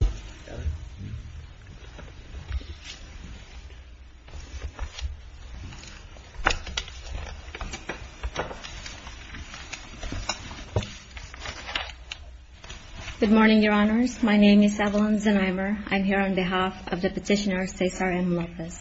Good morning, Your Honors. My name is Evelyn Zenneimer. I'm here on behalf of the petitioner Cesar M. Lopez.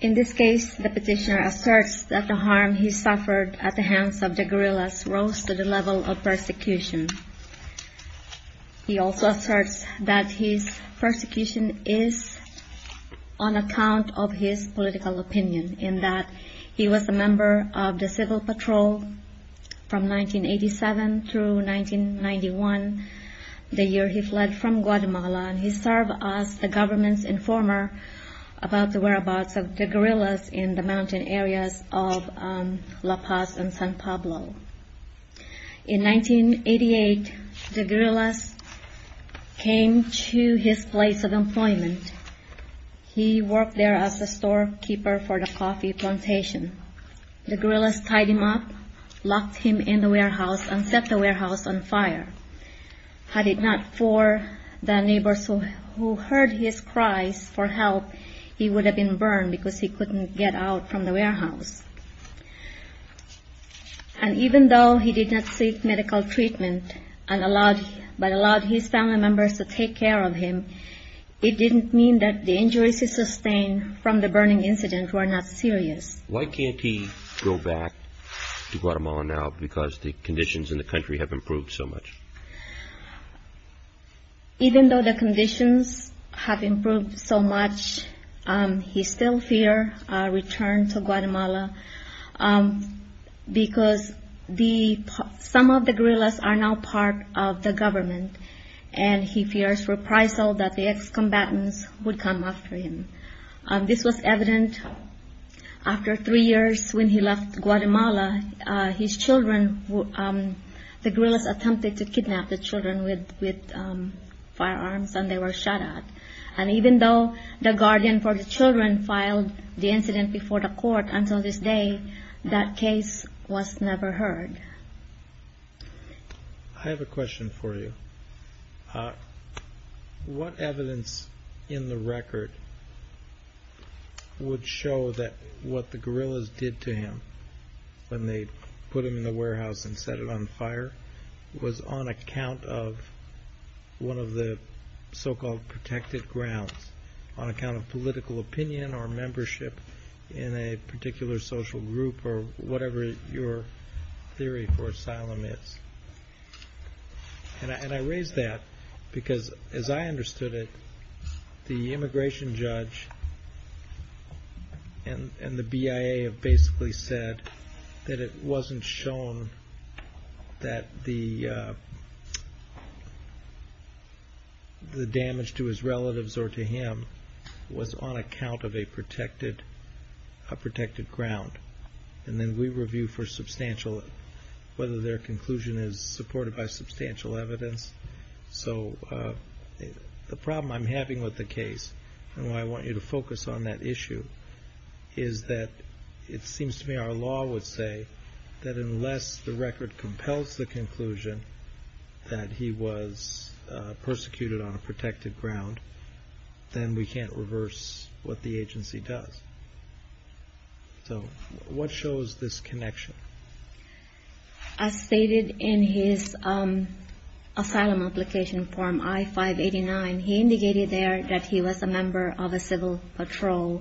In this case, the petitioner asserts that the harm he suffered at the hands of the guerrillas rose to the level of persecution. He also asserts that his persecution is on account of his political opinion, in that he was a member of the Civil Patrol from 1987 through 1991, the year he fled from Guatemala, and he served as the government's informer about the whereabouts of the guerrillas in the mountain areas of La Paz and San Pablo. In 1988, the guerrillas came to his place of employment. He worked there as a storekeeper for the coffee plantation. The guerrillas tied him up, locked him in the warehouse, and set the warehouse on fire. Had it not been for the neighbors who heard his cries for help, he would have been burned because he couldn't get out from the warehouse. And even though he did not seek medical treatment, but allowed his family members to take care of him, it didn't mean that the injuries he sustained from the burning incident were not serious. Why can't he go back to Guatemala now because the conditions in the country have improved so much? Even though the conditions have improved so much, he still fears a return to Guatemala because some of the guerrillas are now part of the government, and he fears reprisal that the ex-combatants would come after him. This was evident after three years when he left Guatemala. The guerrillas attempted to kidnap the children with firearms, and they were shot at. Even though the guardian for the children filed the incident before the court until this day, that case was never heard. I have a question for you. What evidence in the record would show that what the guerrillas did to him when they put him in the warehouse and set it on fire was on account of one of the so-called protected grounds, on account of political opinion or membership in a particular social group or whatever your theory for asylum is? And I raise that because, as I understood it, the immigration judge and the BIA have basically said that it wasn't shown that the damage to his relatives or to him was on account of a protected ground. And then we review for substantial, whether their conclusion is supported by substantial evidence. So the problem I'm having with the case, and why I want you to focus on that issue, is that it seems to me our law would say that unless the record compels the conclusion that he was persecuted on a protected ground, then we can't reverse what the agency does. So what shows this connection? As stated in his asylum application form I-589, he indicated there that he was a member of a guerrilla.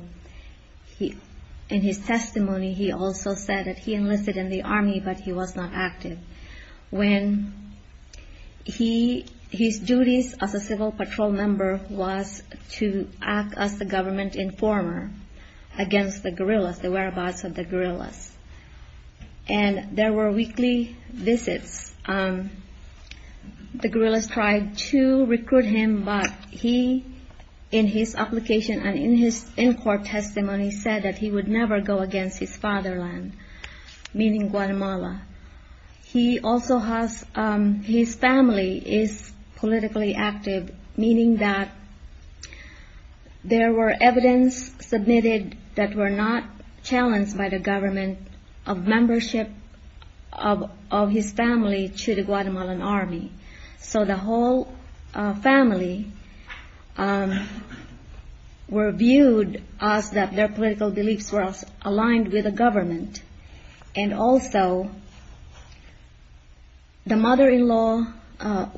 In his testimony, he also said that he enlisted in the Army, but he was not active. When he, his duties as a civil patrol member was to act as the government informer against the guerrillas, the whereabouts of the guerrillas. And there were weekly visits. The guerrillas tried to recruit him, but he, in his application and in his in-court testimony, said that he would never go against his fatherland, meaning Guatemala. He also has, his family is politically active, meaning that there were evidence submitted that were not challenged by the government of membership of his family to the Guatemalan Army. So the whole family were viewed as that their political beliefs were aligned with the government. And also, the mother-in-law,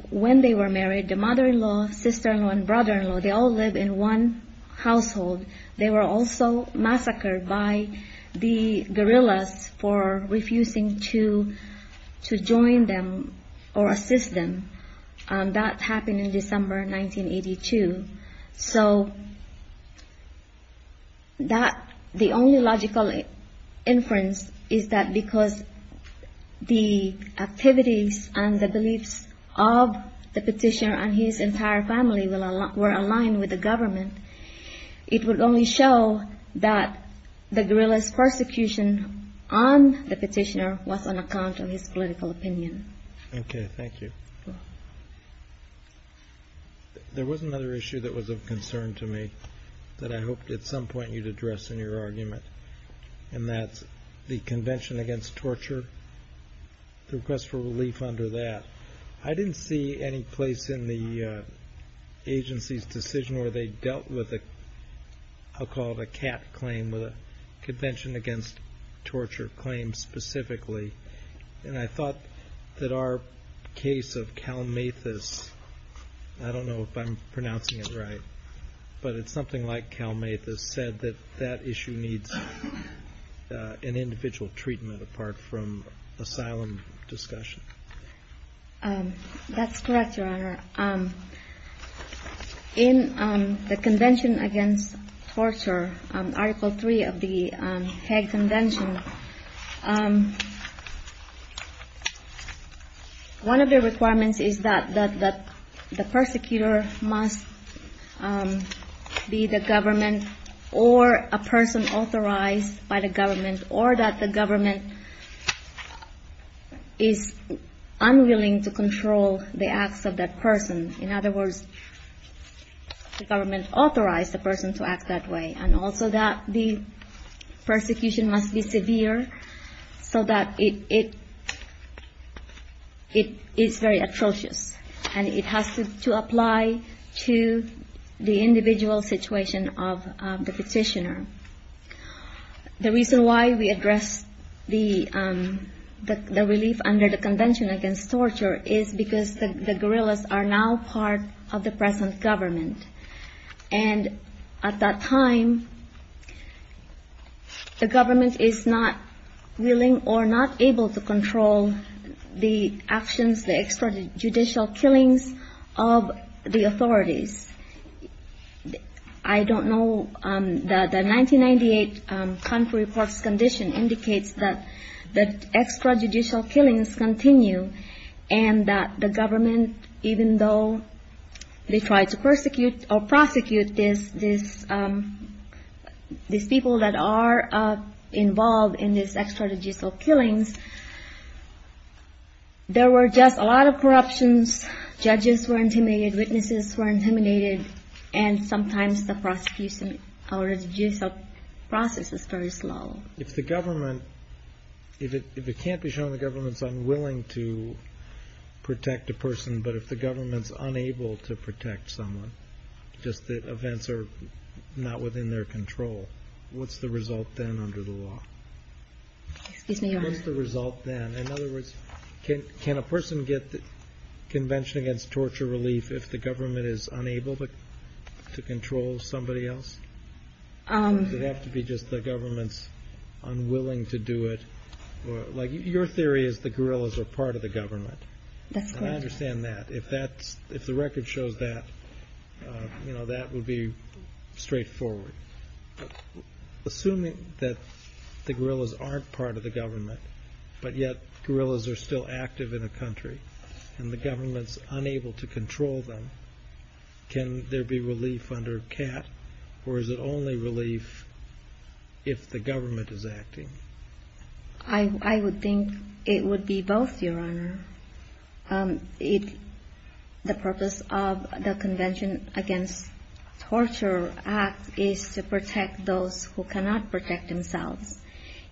when they were married, the mother-in-law, sister-in-law, and brother-in-law, they all live in one household. They were also massacred by the guerrillas for refusing to join them or assist them. That happened in December 1982. So that, the only logical inference is that because the activities and the beliefs of the petitioner and his entire family were aligned with the government, it would only show that the guerrillas' persecution on the Okay, thank you. There was another issue that was of concern to me that I hoped at some point you'd address in your argument, and that's the Convention Against Torture, the request for relief under that. I didn't see any place in the agency's decision where they dealt with a, I'll call it a CAT claim, Convention Against Torture claim specifically. And I don't know if I'm pronouncing it right, but it's something like Kalmathus said that that issue needs an individual treatment apart from asylum discussion. That's correct, Your Honor. In the Convention Against Torture, Article 3 of the Hague Convention, one of the requirements is that the persecutor must be the government or a person authorized by the government, or that the government is unwilling to control the acts of that person. In other words, the government authorized the person to act that way, and also that the persecution must be severe so that it is very atrocious, and it has to apply to the individual situation of the petitioner. The reason why we address the relief under the Convention Against Torture is because the guerrillas are now part of the present government. And at that time, the government is not willing or not able to control the actions, the extrajudicial killings of the authorities. I don't know, the 1998 country reports condition indicates that extrajudicial killings continue, and that the government, even though they try to persecute or prosecute these people that are involved in these extrajudicial killings, there were just a lot of corruptions. Judges were intimidated, witnesses were intimidated, and sometimes the prosecution or the judicial process is very slow. If the government, if it can't be shown the government's unwilling to protect a person, but if the government's unable to protect someone, just that events are not within their control, what's the result then under the law? Excuse me, Your Honor. What's the result then? In other words, can a person get the Convention Against Torture relief if the government is unable to control somebody else? Does it have to be just the government's unwilling to do it? Like, your theory is the guerrillas are part of the government. That's correct. And I understand that. If the record shows that, you know, that would be straightforward. Assuming that the guerrillas aren't part of the government, but yet guerrillas are still active in a country, and the government's unable to control them, can there be relief under CAT, or is it only relief if the government is acting? I would think it would be both, Your Honor. The purpose of the Convention Against Torture Act is to protect those who cannot protect themselves.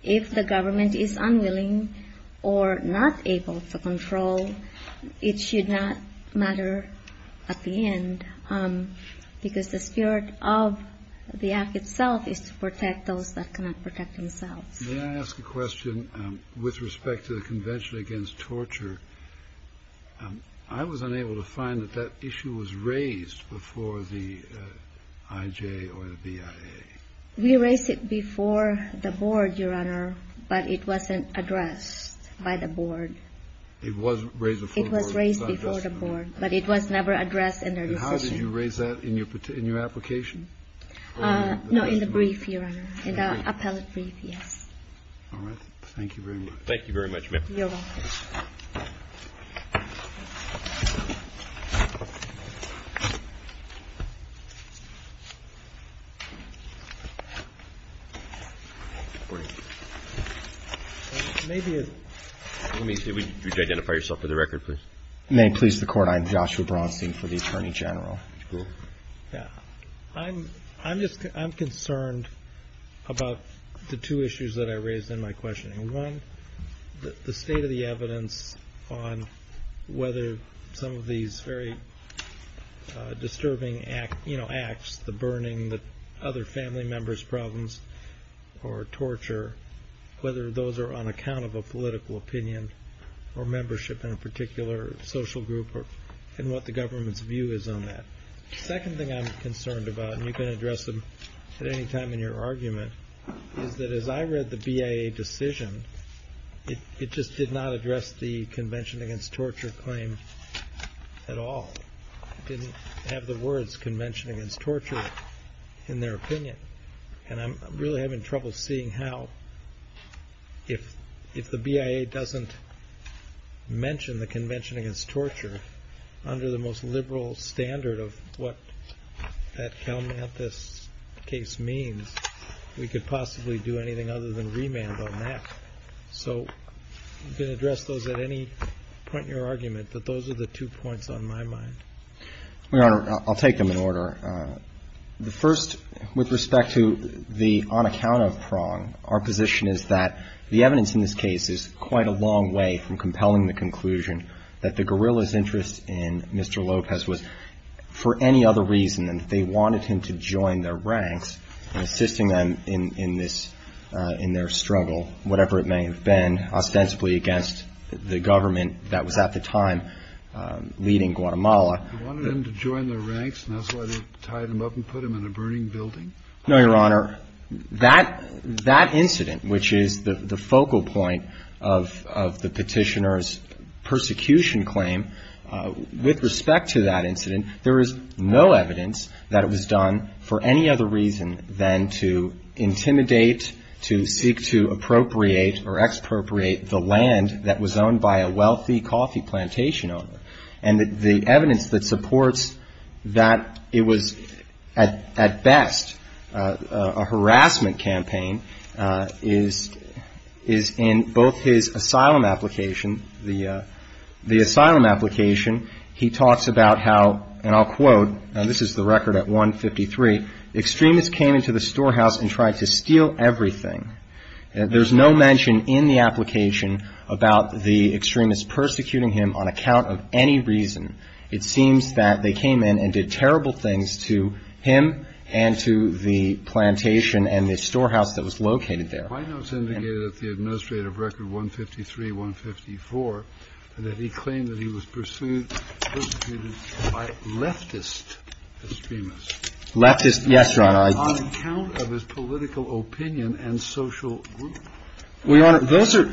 If the government is unwilling or not able to control, it should not matter at the end, because the spirit of the act itself is to protect those that cannot protect themselves. May I ask a question with respect to the Convention Against Torture? I was unable to find that that issue was raised before the IJ or the BIA. We raised it before the board, Your Honor, but it wasn't addressed by the board. It was raised before the board. It was raised before the board, but it was never addressed in their decision. And how did you raise that? In your application? No, in the brief, Your Honor. In the appellate brief, yes. All right. Thank you very much. Thank you very much, ma'am. You're welcome. Let me see. Would you identify yourself for the record, please? May it please the Court, I am Joshua Braunstein for the Attorney General. I'm concerned about the two issues that I raised in my questioning. One, the state of the evidence on whether some of these very disturbing acts, the burning, the other family members' problems or torture, whether those are on account of a political opinion or membership in a particular social group and what the government's view is on that. The second thing I'm concerned about, and you can address them at any time in your argument, is that as I read the BIA decision, it just did not address the Convention Against Torture claim at all. It didn't have the words Convention Against Torture in their opinion. And I'm really having trouble seeing how, if the BIA doesn't mention the Convention Against Torture under the most liberal standard of what that Cal Mathis case means, we could possibly do anything other than remand on that. So you can address those at any point in your argument, but those are the two points on my mind. Your Honor, I'll take them in order. The first, with respect to the on account of prong, our position is that the evidence in this case is quite a long way from compelling the conclusion that the guerrilla's interest in Mr. Lopez was for any other reason than that they wanted him to join their ranks and assisting them in this, in their struggle, whatever it may have been, ostensibly against the government that was at the time leading Guatemala. You wanted him to join their ranks and that's why they tied him up and put him in a burning building? No, Your Honor. That incident, which is the focal point of the Petitioner's persecution claim, with respect to that incident, there is no evidence that it was done for any other reason than to intimidate, to seek to appropriate or expropriate the land that was owned by a wealthy coffee plantation owner. And the evidence that supports that it was at best a harassment campaign is in both his asylum application. The asylum application, he talks about how, and I'll quote, and this is the record at 153, extremists came into the storehouse and tried to steal everything. There's no mention in the application about the extremists persecuting him on account of any reason. It seems that they came in and did terrible things to him and to the plantation and the storehouse that was located there. The White House indicated at the administrative record, 153, 154, that he claimed that he was persecuted by leftist extremists. Leftist, yes, Your Honor. On account of his political opinion and social group. Well, Your Honor, those are,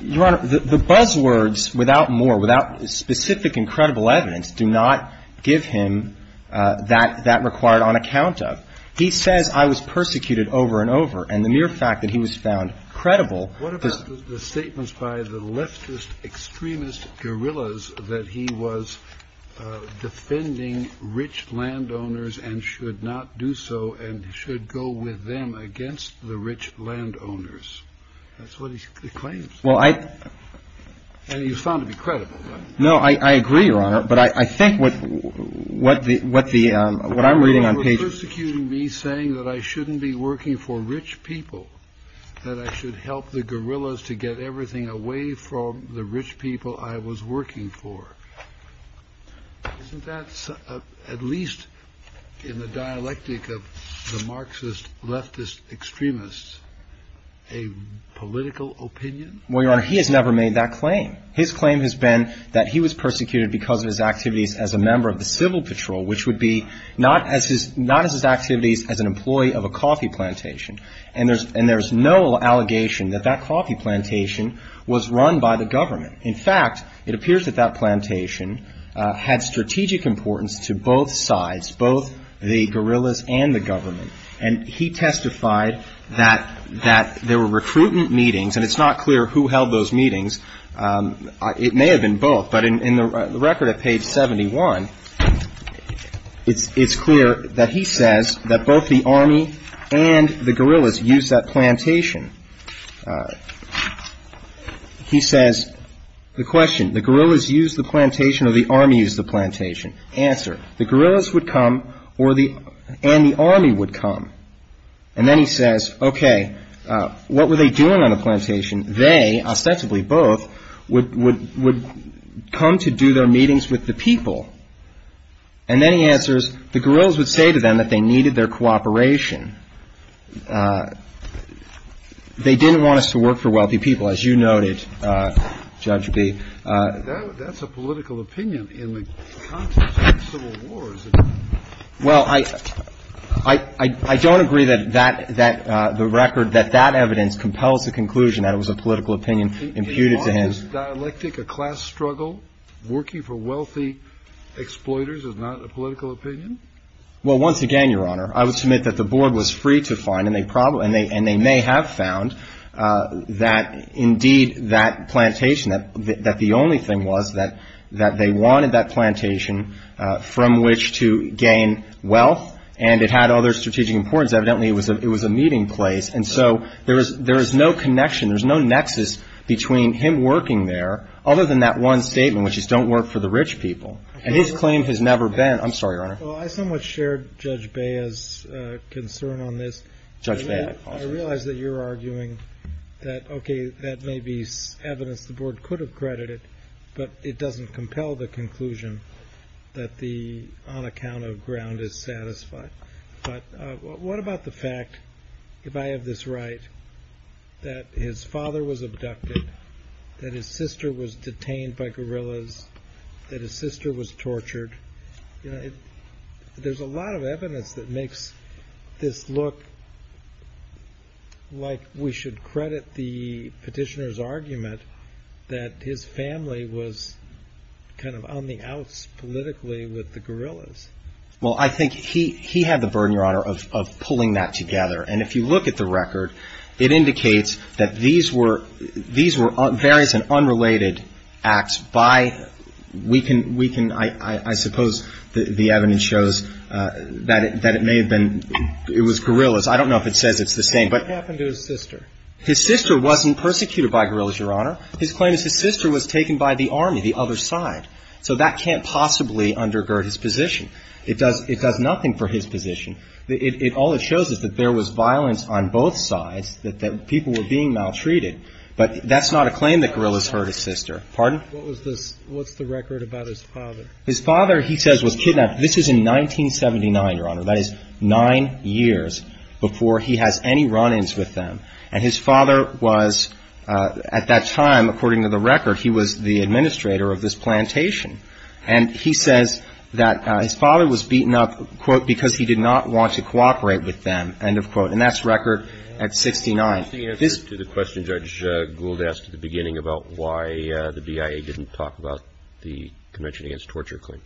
Your Honor, the buzzwords without more, without specific and credible evidence do not give him that required on account of. He says I was persecuted over and over. And the mere fact that he was found credible. What about the statements by the leftist extremist guerrillas that he was defending rich landowners and should not do so and should go with them against the rich landowners? That's what he claims. Well, I. And he was found to be credible. No, I agree, Your Honor. But I think what the, what I'm reading on page. Persecuting me saying that I shouldn't be working for rich people, that I should help the guerrillas to get everything away from the rich people I was working for. Isn't that, at least in the dialectic of the Marxist leftist extremists, a political opinion? Well, Your Honor, he has never made that claim. His claim has been that he was persecuted because of his activities as a member of the civil patrol, which would be not as his activities as an employee of a coffee plantation. And there's no allegation that that coffee plantation was run by the government. In fact, it appears that that plantation had strategic importance to both sides, both the guerrillas and the government. And he testified that there were recruitment meetings. And it's not clear who held those meetings. It may have been both. But in the record at page 71, it's clear that he says that both the army and the guerrillas used that plantation. He says, the question, the guerrillas used the plantation or the army used the plantation? Answer, the guerrillas would come or the, and the army would come. And then he says, okay, what were they doing on the plantation? They, ostensibly both, would come to do their meetings with the people. And then he answers, the guerrillas would say to them that they needed their cooperation. They didn't want us to work for wealthy people, as you noted, Judge Bee. That's a political opinion in the context of civil wars. Well, I don't agree that that, the record, that that evidence compels the conclusion that it was a political opinion imputed to him. On this dialectic, a class struggle, working for wealthy exploiters is not a political opinion? Well, once again, Your Honor, I would submit that the board was free to find, and they may have found that, indeed, that plantation, that the only thing was that they wanted that plantation from which to gain wealth. And it had other strategic importance. Evidently, it was a meeting place. And so there is no connection, there's no nexus between him working there, other than that one statement, which is don't work for the rich people. And his claim has never been. I'm sorry, Your Honor. Well, I somewhat shared Judge Bea's concern on this. Judge Bea. I realize that you're arguing that, okay, that may be evidence the board could have credited, but it doesn't compel the conclusion that the on account of ground is satisfied. But what about the fact, if I have this right, that his father was abducted, that his sister was detained by guerrillas, that his sister was tortured? You know, there's a lot of evidence that makes this look like we should credit the petitioner's argument that his family was kind of on the outs politically with the guerrillas. Well, I think he had the burden, Your Honor, of pulling that together. And if you look at the record, it indicates that these were various and unrelated acts by, we can, I suppose, the evidence shows that it may have been, it was guerrillas. I don't know if it says it's the same. What happened to his sister? His sister wasn't persecuted by guerrillas, Your Honor. His claim is his sister was taken by the army, the other side. So that can't possibly undergird his position. It does nothing for his position. All it shows is that there was violence on both sides, that people were being maltreated. But that's not a claim that guerrillas hurt his sister. Pardon? What's the record about his father? His father, he says, was kidnapped. This is in 1979, Your Honor. That is nine years before he has any run-ins with them. And his father was, at that time, according to the record, he was the administrator of this plantation. And he says that his father was beaten up, quote, because he did not want to cooperate with them, end of quote. And that's record at 69. What's the answer to the question Judge Gould asked at the beginning about why the BIA didn't talk about the Convention Against Torture claim?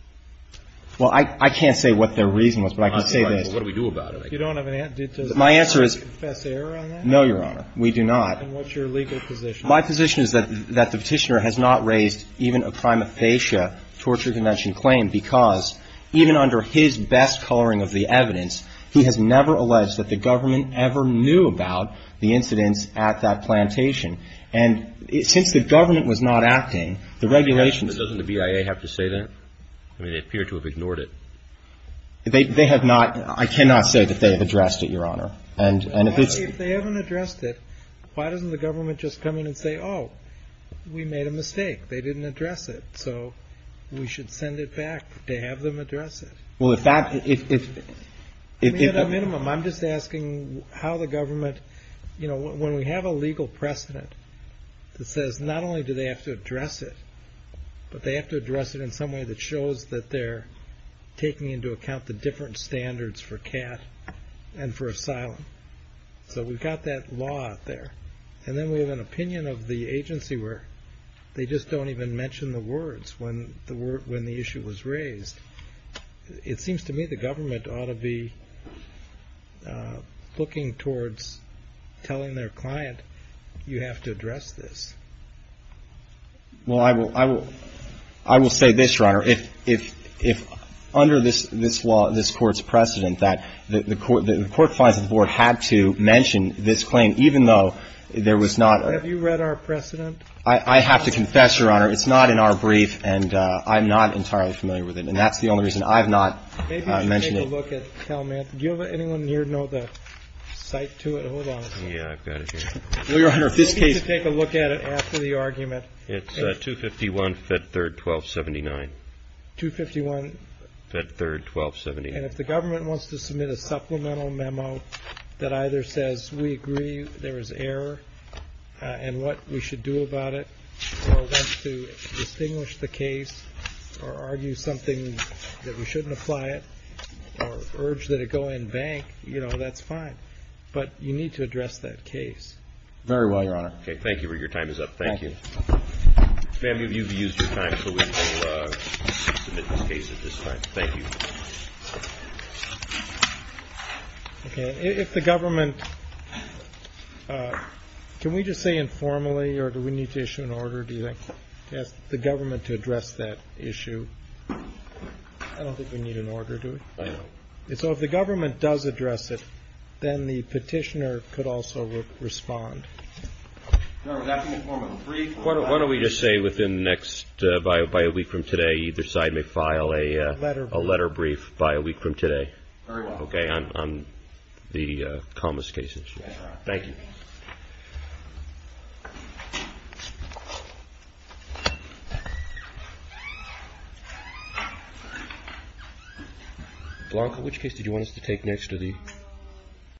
Well, I can't say what their reason was, but I can say this. I'm sorry. But what do we do about it? You don't have an answer? My answer is no, Your Honor. We do not. And what's your legal position? My position is that the petitioner has not raised even a prima facie torture convention claim because even under his best coloring of the evidence, he has never alleged that the government ever knew about the incidents at that plantation. And since the government was not acting, the regulations. But doesn't the BIA have to say that? I mean, they appear to have ignored it. They have not. I cannot say that they have addressed it, Your Honor. And if it's. If they haven't addressed it, why doesn't the government just come in and say, oh, we made a mistake. They didn't address it. So we should send it back to have them address it. Well, if that. At a minimum, I'm just asking how the government. You know, when we have a legal precedent that says not only do they have to address it, but they have to address it in some way that shows that they're taking into account the different standards for CAT and for asylum. So we've got that law out there. And then we have an opinion of the agency where they just don't even mention the words when the issue was raised. It seems to me the government ought to be looking towards telling their client you have to address this. Well, I will. I will. I will say this, Your Honor. If under this law, this court's precedent, that the court finds that the board had to mention this claim, even though there was not. Have you read our precedent? I have to confess, Your Honor, it's not in our brief. And I'm not entirely familiar with it. And that's the only reason I've not mentioned it. Maybe you should take a look at Talmadge. Do you have anyone here know the site to it? Hold on a second. Yeah, I've got it here. Well, Your Honor, this case. Maybe you should take a look at it after the argument. It's 251-Fed 3rd-1279. 251-Fed 3rd-1279. And if the government wants to submit a supplemental memo that either says we agree there was error and what we should do about it or wants to distinguish the case or argue something that we shouldn't apply it or urge that it go in bank, you know, that's fine. But you need to address that case. Very well, Your Honor. Okay. Thank you. Your time is up. Thank you. Ma'am, you've used your time, so we will submit this case at this time. Thank you. Okay. If the government – can we just say informally or do we need to issue an order, do you think? To ask the government to address that issue. I don't think we need an order, do we? I don't. So if the government does address it, then the petitioner could also respond. No, that would be a form of brief. Why don't we just say within the next – by a week from today, either side may file a letter brief by a week from today. Very well. Okay, on the Comas case issue. Thank you. Thank you.